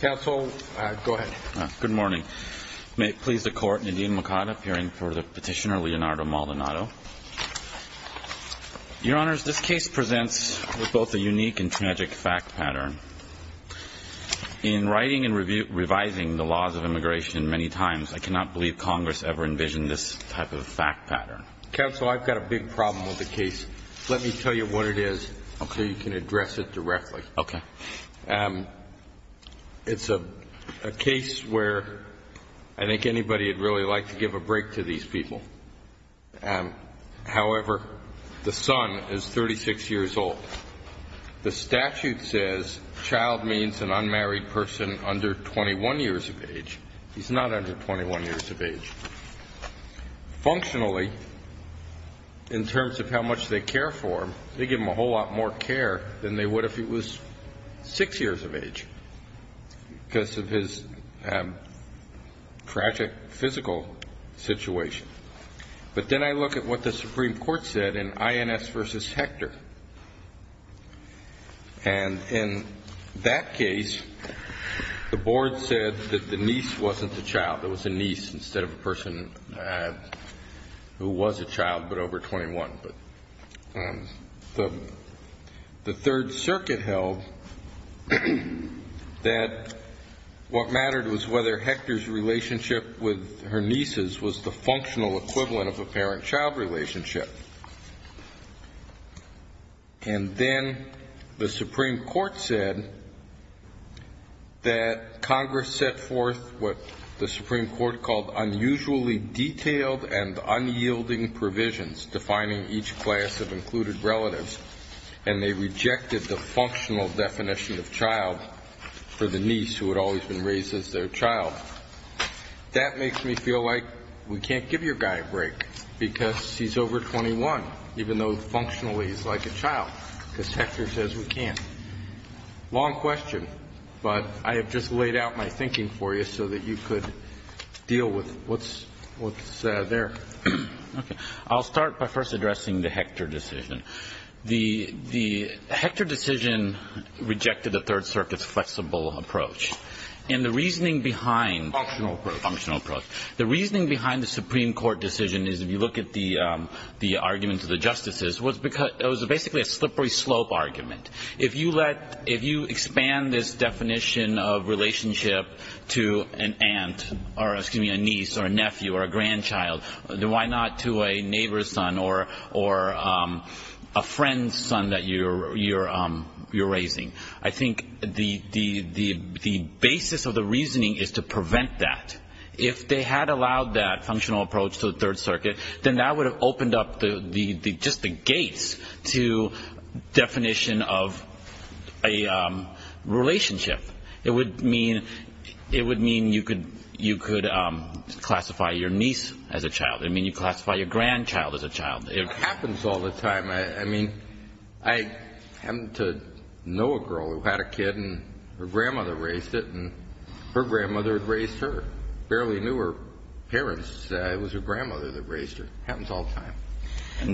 Counsel, go ahead. Good morning. May it please the court, Nadeem Makada, appearing for the petitioner Leonardo Maldonado. Your Honors, this case presents with both a unique and tragic fact pattern. In writing and revising the laws of immigration many times, I cannot believe Congress ever envisioned this type of fact pattern. Counsel, I've got a big problem with the case. Let me tell you what it is so you can address it directly. Okay. It's a case where I think anybody would really like to give a break to these people. However, the son is 36 years old. The statute says child means an unmarried person under 21 years of age. He's not under 21 years of age. Functionally, in terms of how much they care for him, they give him a whole lot more care than they would if he was 6 years of age because of his tragic physical situation. But then I look at what the Supreme Court said in INS v. Hector. And in that case, the board said that the niece wasn't the child. There was a niece instead of a person who was a child but over 21. The Third Circuit held that what mattered was whether Hector's relationship with her nieces was the functional equivalent of a parent-child relationship. And then the Supreme Court said that Congress set forth what definitions, defining each class of included relatives, and they rejected the functional definition of child for the niece who had always been raised as their child. That makes me feel like we can't give your guy a break because he's over 21, even though functionally he's like a child, because Hector says we can't. Long question, but I have just laid out my thinking for you so that you could deal with what's there. Okay. I'll start by first addressing the Hector decision. The Hector decision rejected the Third Circuit's flexible approach. And the reasoning behind... Functional approach. Functional approach. The reasoning behind the Supreme Court decision is if you look at the arguments of the justices, it was basically a slippery slope argument. If you expand this definition of child, then why not to a neighbor's son or a friend's son that you're raising? I think the basis of the reasoning is to prevent that. If they had allowed that functional approach to the Third Circuit, then that would have opened up just the gates to definition of a relationship. It would mean you could classify your niece as a child. It would mean you classify your grandchild as a child. It happens all the time. I mean, I happen to know a girl who had a kid, and her grandmother raised it, and her grandmother raised her. Barely knew her parents. It was her grandmother that raised her. Happens all the time. Do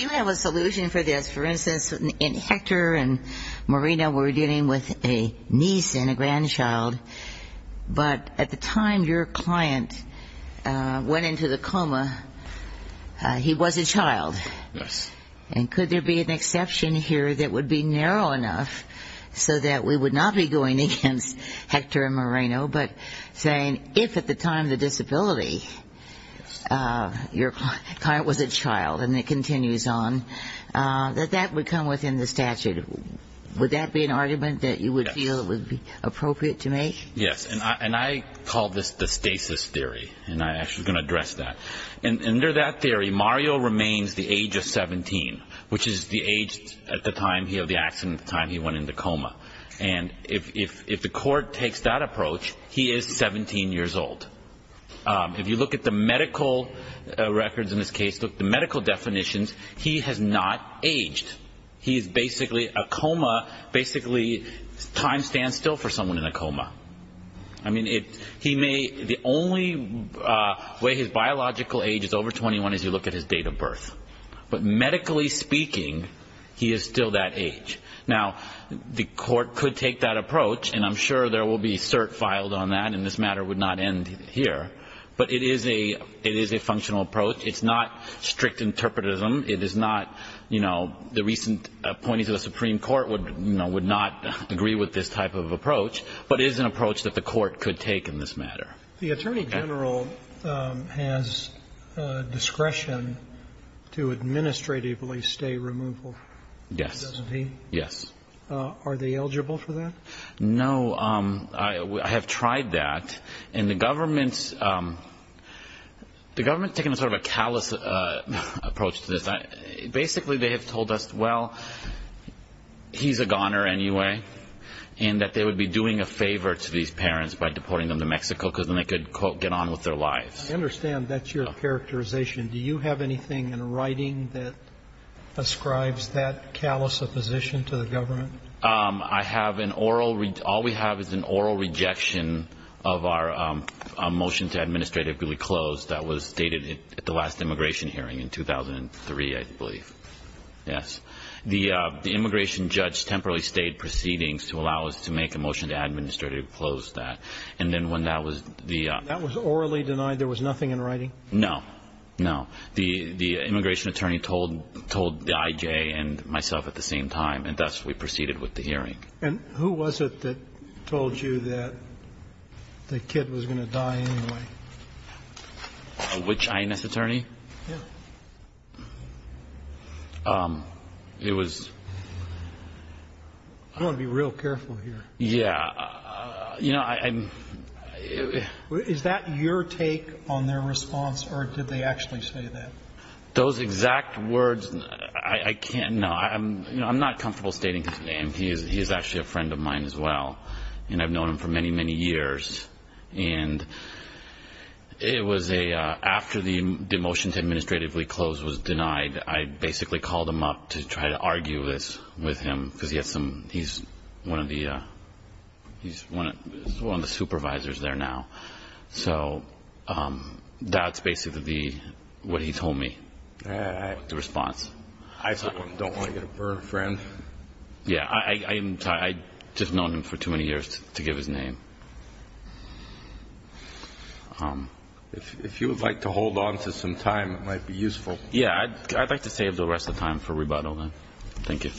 you have a solution for this? For instance, Hector and Marina were dealing with a niece and a grandchild, but at the time your client went into the coma, he was a child. And could there be an exception here that would be narrow enough so that we would not be going against Hector and Marina, but saying if at the time of the disability your client was a child, and it continues on, that that would come within the statute. Would that be an argument that you would feel it would be appropriate to make? Yes. And I call this the stasis theory, and I'm actually going to address that. Under that theory, Mario remains the age of 17, which is the age at the time of the accident, the time he went into coma. And if the court takes that approach, he is 17 years old. If you look at the medical records in this case, look at the medical definitions, he has not aged. He is basically a coma, basically time stands still for someone in a coma. I mean, he may, the only way his biological age is over 21 is you look at his date of birth. But medically speaking, he is still that age. Now, the court could take that approach, and I'm sure there will be cert filed on that, and this matter would not end here. But it is a functional approach. It's not strict interpretism. It is not, you know, the recent appointees to the Supreme Court would not agree with this type of approach, but it is an approach that the court could take in this matter. The Attorney General has discretion to administratively stay removal. Yes. Doesn't he? Yes. Are they eligible for that? No. I have tried that. And the government, the government has taken sort of a callous approach to this. Basically, they have told us, well, he's a goner anyway, and that they would be doing a favor to these parents by deporting them to Mexico because then they could, quote, get on with their lives. I understand that's your characterization. Do you have anything in writing that ascribes that callous opposition to the government? I have an oral, all we have is an oral rejection of our motion to administratively close that was stated at the last immigration hearing in 2003, I believe. Yes. The immigration judge temporarily stayed proceedings to allow us to make a motion to administratively close that. And then when that was the ---- That was orally denied? There was nothing in writing? No. No. The immigration attorney told the I.J. and myself at the same time, and thus we proceeded with the hearing. And who was it that told you that the kid was going to die anyway? Which I.N.S. attorney? Yeah. It was ---- You want to be real careful here. Yeah. You know, I'm ---- Is that your take on their response, or did they actually say that? Those exact words, I can't know. I'm not comfortable stating his name. He is actually a friend of mine as well, and I've known him for many, many years. And it was a ---- after the motion to administratively close was denied, I basically called him up to try to argue this with him, because he has some ---- he's one of the supervisors there now. So that's basically what he told me, the response. I don't want to get a burn, friend. Yeah. I'm sorry. I've just known him for too many years to give his name. If you would like to hold on to some time, it might be useful. Yeah. I'd like to save the rest of the time for rebuttal, then. Thank you.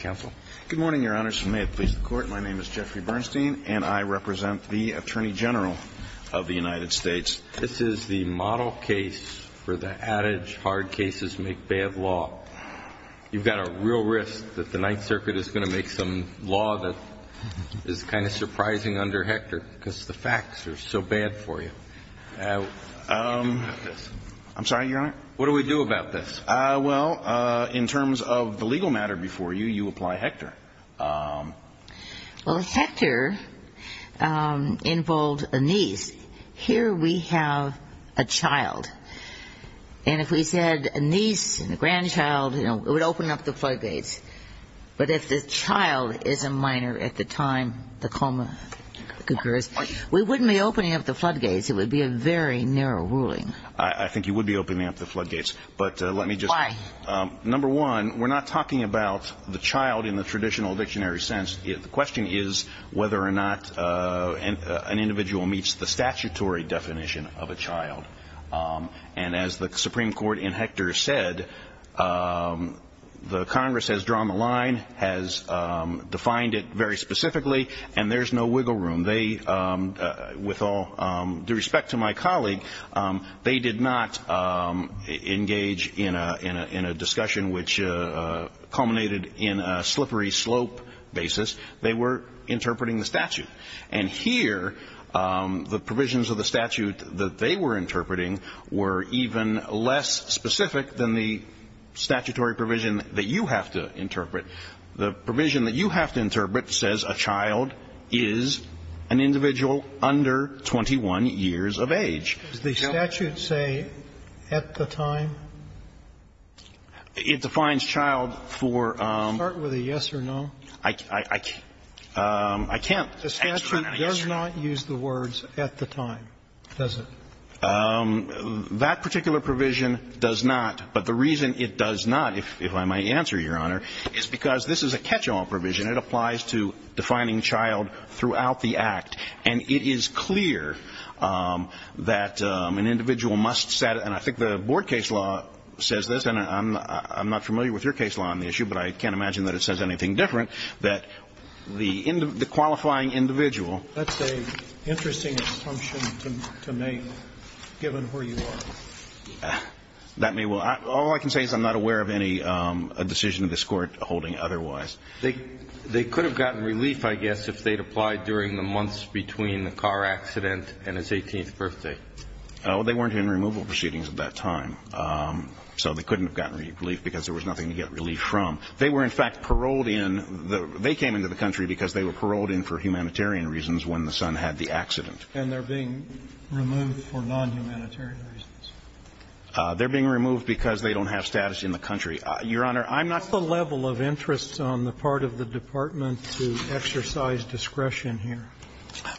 Counsel. Good morning, Your Honors. May it please the Court, my name is Jeffrey Bernstein, and I represent the Attorney General of the United States. This is the model case for the adage hard cases make bad law. You've got a real risk that the Ninth Circuit is going to make some law that is kind of surprising under Hector, because the facts are so bad for you. I'm sorry, Your Honor? What do we do about this? Well, in terms of the legal matter before you, you apply Hector. Well, Hector involved a niece. Here we have a child. And if we said a niece and a child is a minor at the time the coma occurs, we wouldn't be opening up the floodgates. It would be a very narrow ruling. I think you would be opening up the floodgates. Why? Number one, we're not talking about the child in the traditional dictionary sense. The question is whether or not an individual meets the statutory definition of a child. And as the Supreme Court in Hector said, the Congress has drawn the line, has defined it very specifically, and there's no wiggle room. With all due respect to my colleague, they did not engage in a discussion which culminated in a slippery slope basis. They were interpreting the statute. And here, the provisions of the statute that they were interpreting were even less specific than the statutory provision that you have to interpret. The provision that you have to interpret says a child is an individual under 21 years of age. Does the statute say at the time? It defines child for ‑‑ Start with a yes or no. I can't. The statute does not use the words at the time, does it? That particular provision does not. But the reason it does not, if I might answer, Your Honor, is because this is a catch-all provision. It applies to defining child throughout the act. And it is clear that an individual must set ‑‑ and I think the board case law says this, and I'm not familiar with your case law on the issue, but I can't imagine that it says anything different, that the qualifying individual ‑‑ That's an interesting assumption to make, given where you are. That may well ‑‑ all I can say is I'm not aware of any decision of this Court holding otherwise. They could have gotten relief, I guess, if they'd applied during the months between the car accident and his 18th birthday. Well, they weren't in removal proceedings at that time. So they couldn't have gotten relief because there was nothing to get relief from. They were, in fact, paroled in. They came into the country because they were paroled in for humanitarian reasons when the son had the accident. And they're being removed for nonhumanitarian reasons. They're being removed because they don't have status in the country. Your Honor, I'm not ‑‑ What's the level of interest on the part of the department to exercise discretion here?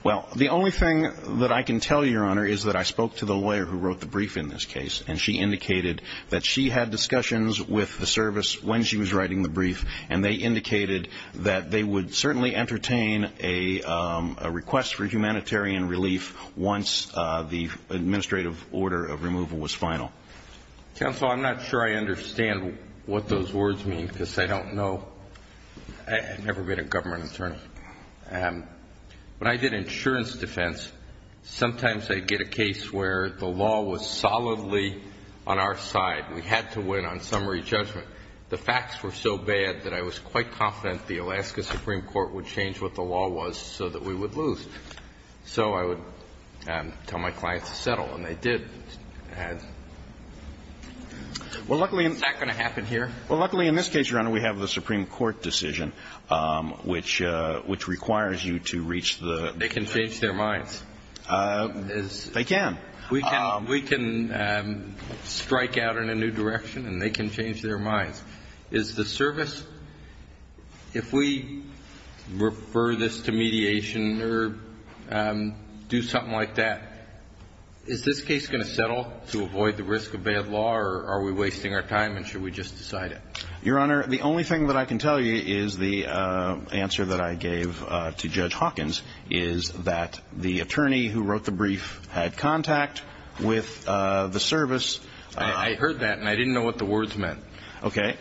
Well, the only thing that I can tell you, Your Honor, is that I spoke to the lawyer who wrote the brief in this case, and she indicated that she had discussions with the service when she was writing the brief. And they indicated that they would certainly entertain a request for humanitarian relief once the administrative order of removal was final. Counsel, I'm not sure I understand what those words mean because I don't know. I've never been a government attorney. When I did insurance defense, sometimes I'd get a case where the law was solidly on our side. We had to win on summary judgment. The facts were so bad that I was quite confident the Alaska Supreme Court would change what the law was so that we would lose. So I would tell my clients to settle, and they did. Well, luckily ‑‑ Is that going to happen here? Well, luckily in this case, Your Honor, we have the Supreme Court decision, which requires you to reach the ‑‑ They can change their minds. They can. We can strike out in a new direction, and they can change their minds. Is the service, if we refer this to mediation or do something like that, is this case going to settle to avoid the risk of bad law, or are we wasting our time, and should we just decide it? Your Honor, the only thing that I can tell you is the answer that I gave to Judge Hawkins is that the attorney who wrote the brief had contact with the service. I heard that, and I didn't know what the words meant. Okay.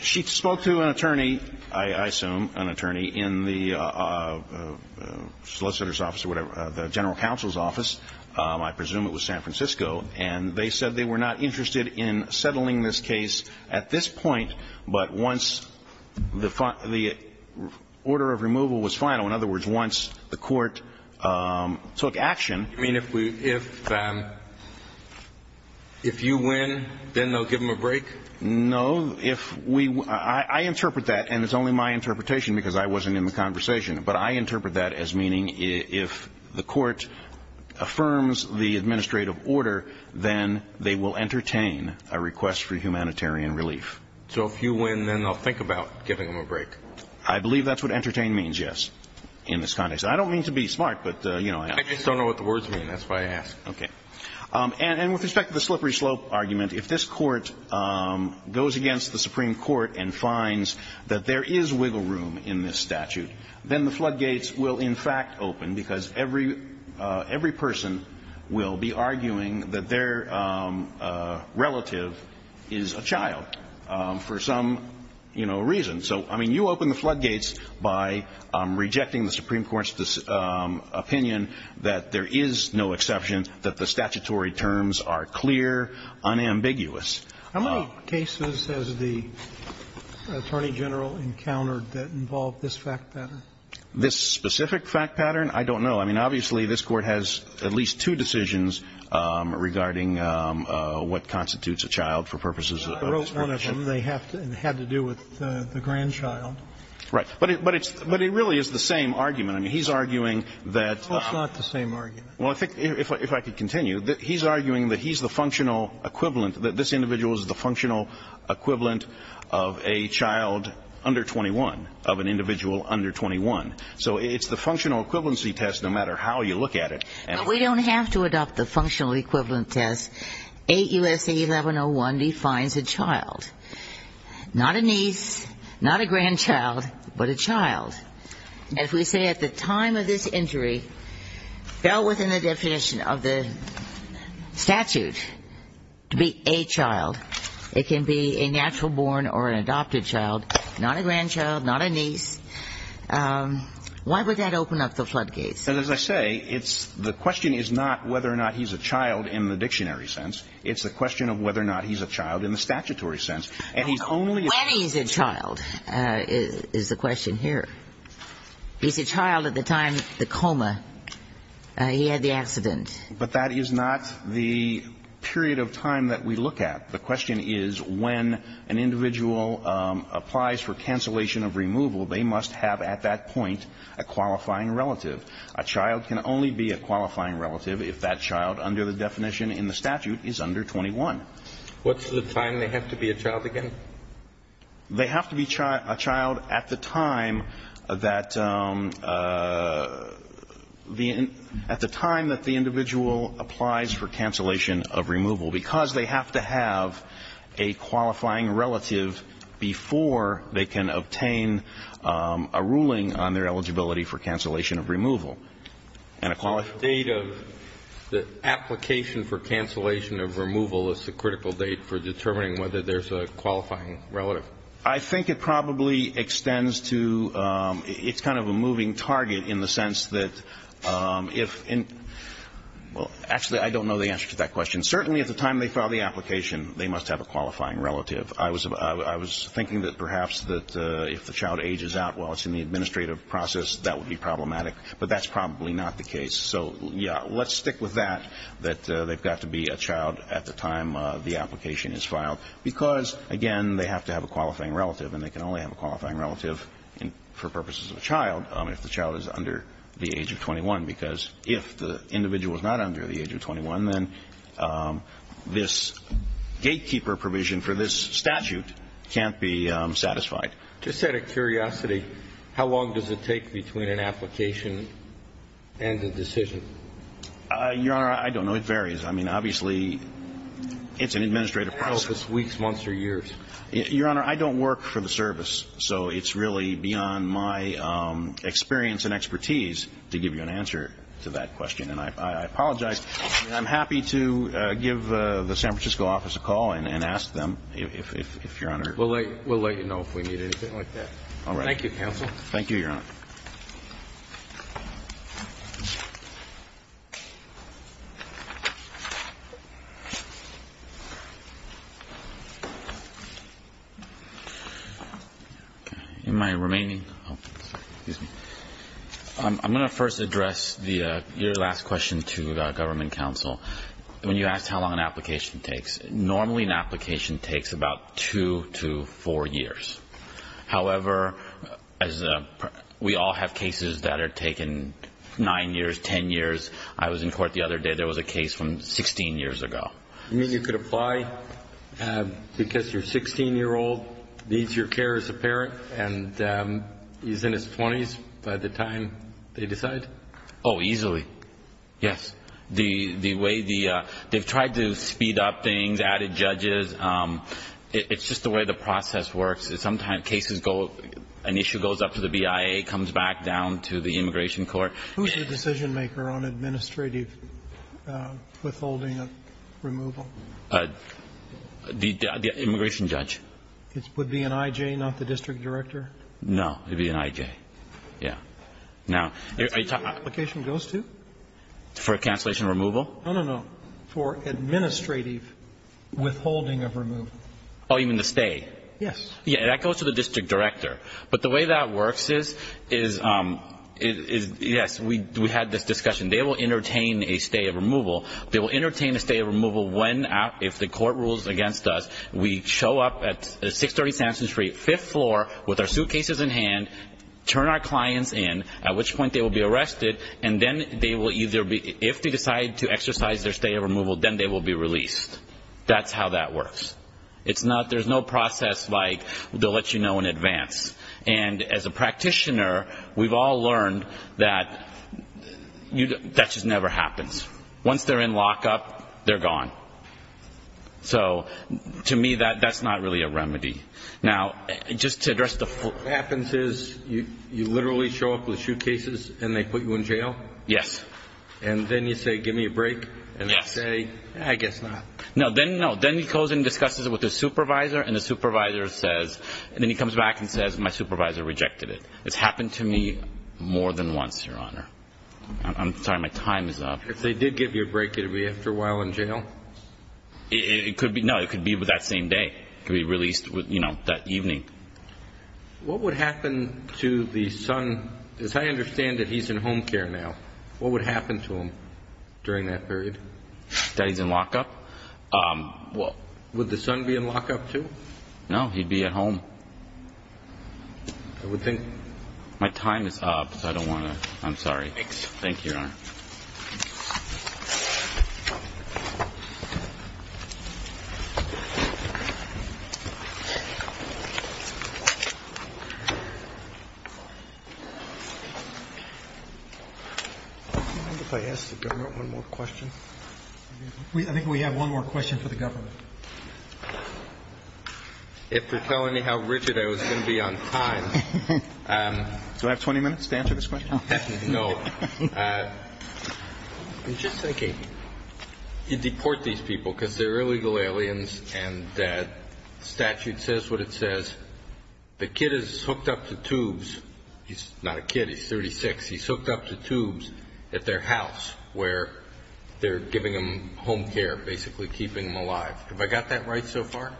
She spoke to an attorney, I assume an attorney, in the solicitor's office or whatever, the general counsel's office, I presume it was San Francisco, and they said they were not interested in settling this case at this point, but once the order of removal was final, in other words, once the court took action ‑‑ You mean if we ‑‑ if you win, then they'll give them a break? No. If we ‑‑ I interpret that, and it's only my interpretation because I wasn't in the conversation, but I interpret that as meaning if the court affirms the administrative order, then they will entertain a request for humanitarian relief. So if you win, then they'll think about giving them a break? I believe that's what entertain means, yes, in this context. I don't mean to be smart, but, you know ‑‑ I just don't know what the words mean. That's why I asked. Okay. And with respect to the slippery slope argument, if this court goes against the Supreme Court and finds that there is wiggle room in this statute, then the floodgates will, in fact, open because every person will be arguing that their relative is a child for some, you know, reason. So, I mean, you open the floodgates by rejecting the Supreme Court's opinion that there is no exception, that the statutory terms are clear, unambiguous. How many cases has the attorney general encountered that involved this fact pattern? This specific fact pattern? I don't know. I mean, obviously, this Court has at least two decisions regarding what constitutes a child for purposes of ‑‑ I wrote one of them. It had to do with the grandchild. Right. But it really is the same argument. I mean, he's arguing that ‑‑ No, it's not the same argument. Well, I think, if I could continue, he's arguing that he's the functional equivalent, that this individual is the functional equivalent of a child under 21, of an individual under 21. So it's the functional equivalency test, no matter how you look at it. But we don't have to adopt the functional equivalent test. 8 U.S.A. 1101 defines a child. Not a niece, not a grandchild, but a child. And if we say at the time of this injury, fell within the definition of the statute to be a child, it can be a natural born or an adopted child, not a grandchild, not a niece, why would that open up the floodgates? And as I say, it's ‑‑ the question is not whether or not he's a child in the dictionary sense. It's the question of whether or not he's a child in the statutory sense. And he's only ‑‑ When he's a child is the question here. He's a child at the time of the coma. He had the accident. But that is not the period of time that we look at. The question is when an individual applies for cancellation of removal, they must have at that point a qualifying relative. A child can only be a qualifying relative if that child under the definition in the statute is under 21. What's the time they have to be a child again? They have to be a child at the time that the individual applies for cancellation of removal. Because they have to have a qualifying relative before they can obtain a ruling on their eligibility for cancellation of removal. And a qualifying ‑‑ The date of the application for cancellation of removal is the critical date for determining whether there's a qualifying relative. I think it probably extends to ‑‑ it's kind of a moving target in the sense that if ‑‑ well, actually, I don't know the answer to that question. Certainly at the time they file the application, they must have a qualifying relative. I was thinking that perhaps that if the child ages out while it's in the administrative process, that would be problematic. But that's probably not the case. So, yeah, let's stick with that, that they've got to be a child at the time the application is filed. Because, again, they have to have a qualifying relative. And they can only have a qualifying relative for purposes of a child if the child is under the age of 21. Because if the individual is not under the age of 21, then this gatekeeper provision for this statute can't be satisfied. Just out of curiosity, how long does it take between an application and a decision? Your Honor, I don't know. It varies. I mean, obviously, it's an administrative process. Weeks, months, or years? Your Honor, I don't work for the service. So it's really beyond my experience and expertise to give you an answer to that question. And I apologize. I'm happy to give the San Francisco office a call and ask them if, Your Honor. We'll let you know if we need anything like that. All right. Thank you, counsel. Thank you, Your Honor. I'm going to first address your last question to Government Counsel. When you asked how long an application takes, normally an application takes about two to four years. However, we all have cases that are taken nine years, ten years. I was in court the other day. There was a case from 16 years ago. You mean you could apply because your 16-year-old needs your care as a parent and he's in his 20s by the time they decide? Oh, easily, yes. They've tried to speed up things, added judges. It's just the way the process works. Sometimes cases go, an issue goes up to the BIA, comes back down to the Immigration Court. Who's the decision-maker on administrative withholding of removal? The immigration judge. Would it be an IJ, not the district director? No, it would be an IJ. Yeah. Now, are you talking about the application goes to? For a cancellation of removal? No, no, no. For administrative withholding of removal. Oh, you mean the stay? Yes. Yeah, that goes to the district director. But the way that works is, yes, we had this discussion. They will entertain a stay of removal. They will entertain a stay of removal when, if the court rules against us, we show up at 630 Sampson Street, fifth floor, with our suitcases in hand, turn our clients in, at which point they will be arrested, and then they will either be, if they decide to exercise their stay of removal, then they will be released. That's how that works. There's no process like they'll let you know in advance. And as a practitioner, we've all learned that that just never happens. Once they're in lockup, they're gone. So, to me, that's not really a remedy. Now, just to address the full question. What happens is you literally show up with suitcases and they put you in jail? Yes. And then you say, give me a break, and they say, I guess not. No. Then he goes and discusses it with his supervisor, and the supervisor says, and then he comes back and says, my supervisor rejected it. It's happened to me more than once, Your Honor. I'm sorry. My time is up. If they did give you a break, would you be after a while in jail? No. It could be that same day. It could be released that evening. What would happen to the son? As I understand it, he's in home care now. What would happen to him during that period? That he's in lockup? Would the son be in lockup, too? No. He'd be at home. I would think. My time is up, so I don't want to. I'm sorry. Thanks. Thank you, Your Honor. I think we have one more question for the government. If you're telling me how rigid I was going to be on time, do I have 20 minutes to answer this question? No. I'm just thinking, you deport these people because they're illegal aliens and the statute says what it says. The kid is hooked up to tubes. He's not a kid. He's 36. He's hooked up to tubes at their house where they're giving him home care, basically keeping him alive. Have I got that right so far?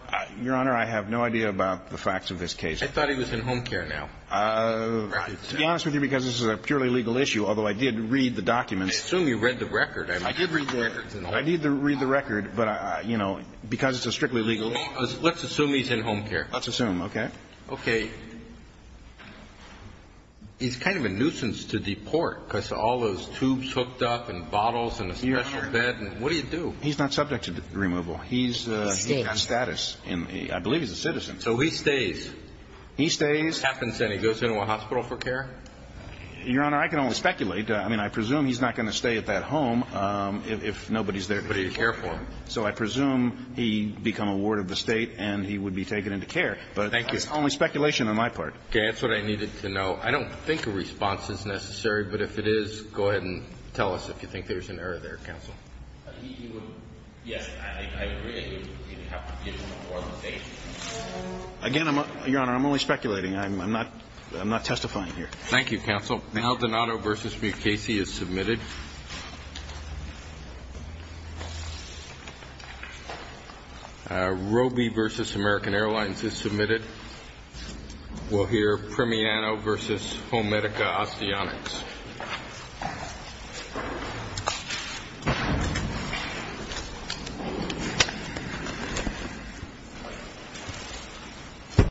Your Honor, I have no idea about the facts of this case. I thought he was in home care now. To be honest with you, because this is a purely legal issue, although I did read the documents. I assume you read the record. I did read the records. I did read the record, but, you know, because it's a strictly legal issue. Let's assume he's in home care. Let's assume. Okay. Okay. He's kind of a nuisance to deport because all those tubes hooked up and bottles and a special bed. What do you do? He's not subject to removal. He's status. I believe he's a citizen. So he stays. He stays. So if this happens and he goes into a hospital for care? Your Honor, I can only speculate. I mean, I presume he's not going to stay at that home if nobody's there to take care of him. So I presume he'd become a ward of the state and he would be taken into care. Thank you. But it's only speculation on my part. Okay. That's what I needed to know. I don't think a response is necessary, but if it is, go ahead and tell us if you think there's an error there, counsel. Yes, I agree. You'd have to give more information. Again, Your Honor, I'm only speculating. I'm not testifying here. Thank you, counsel. Maldonado v. Mukasey is submitted. Roby v. American Airlines is submitted. We'll hear Primiano v. Homerica Osteotics.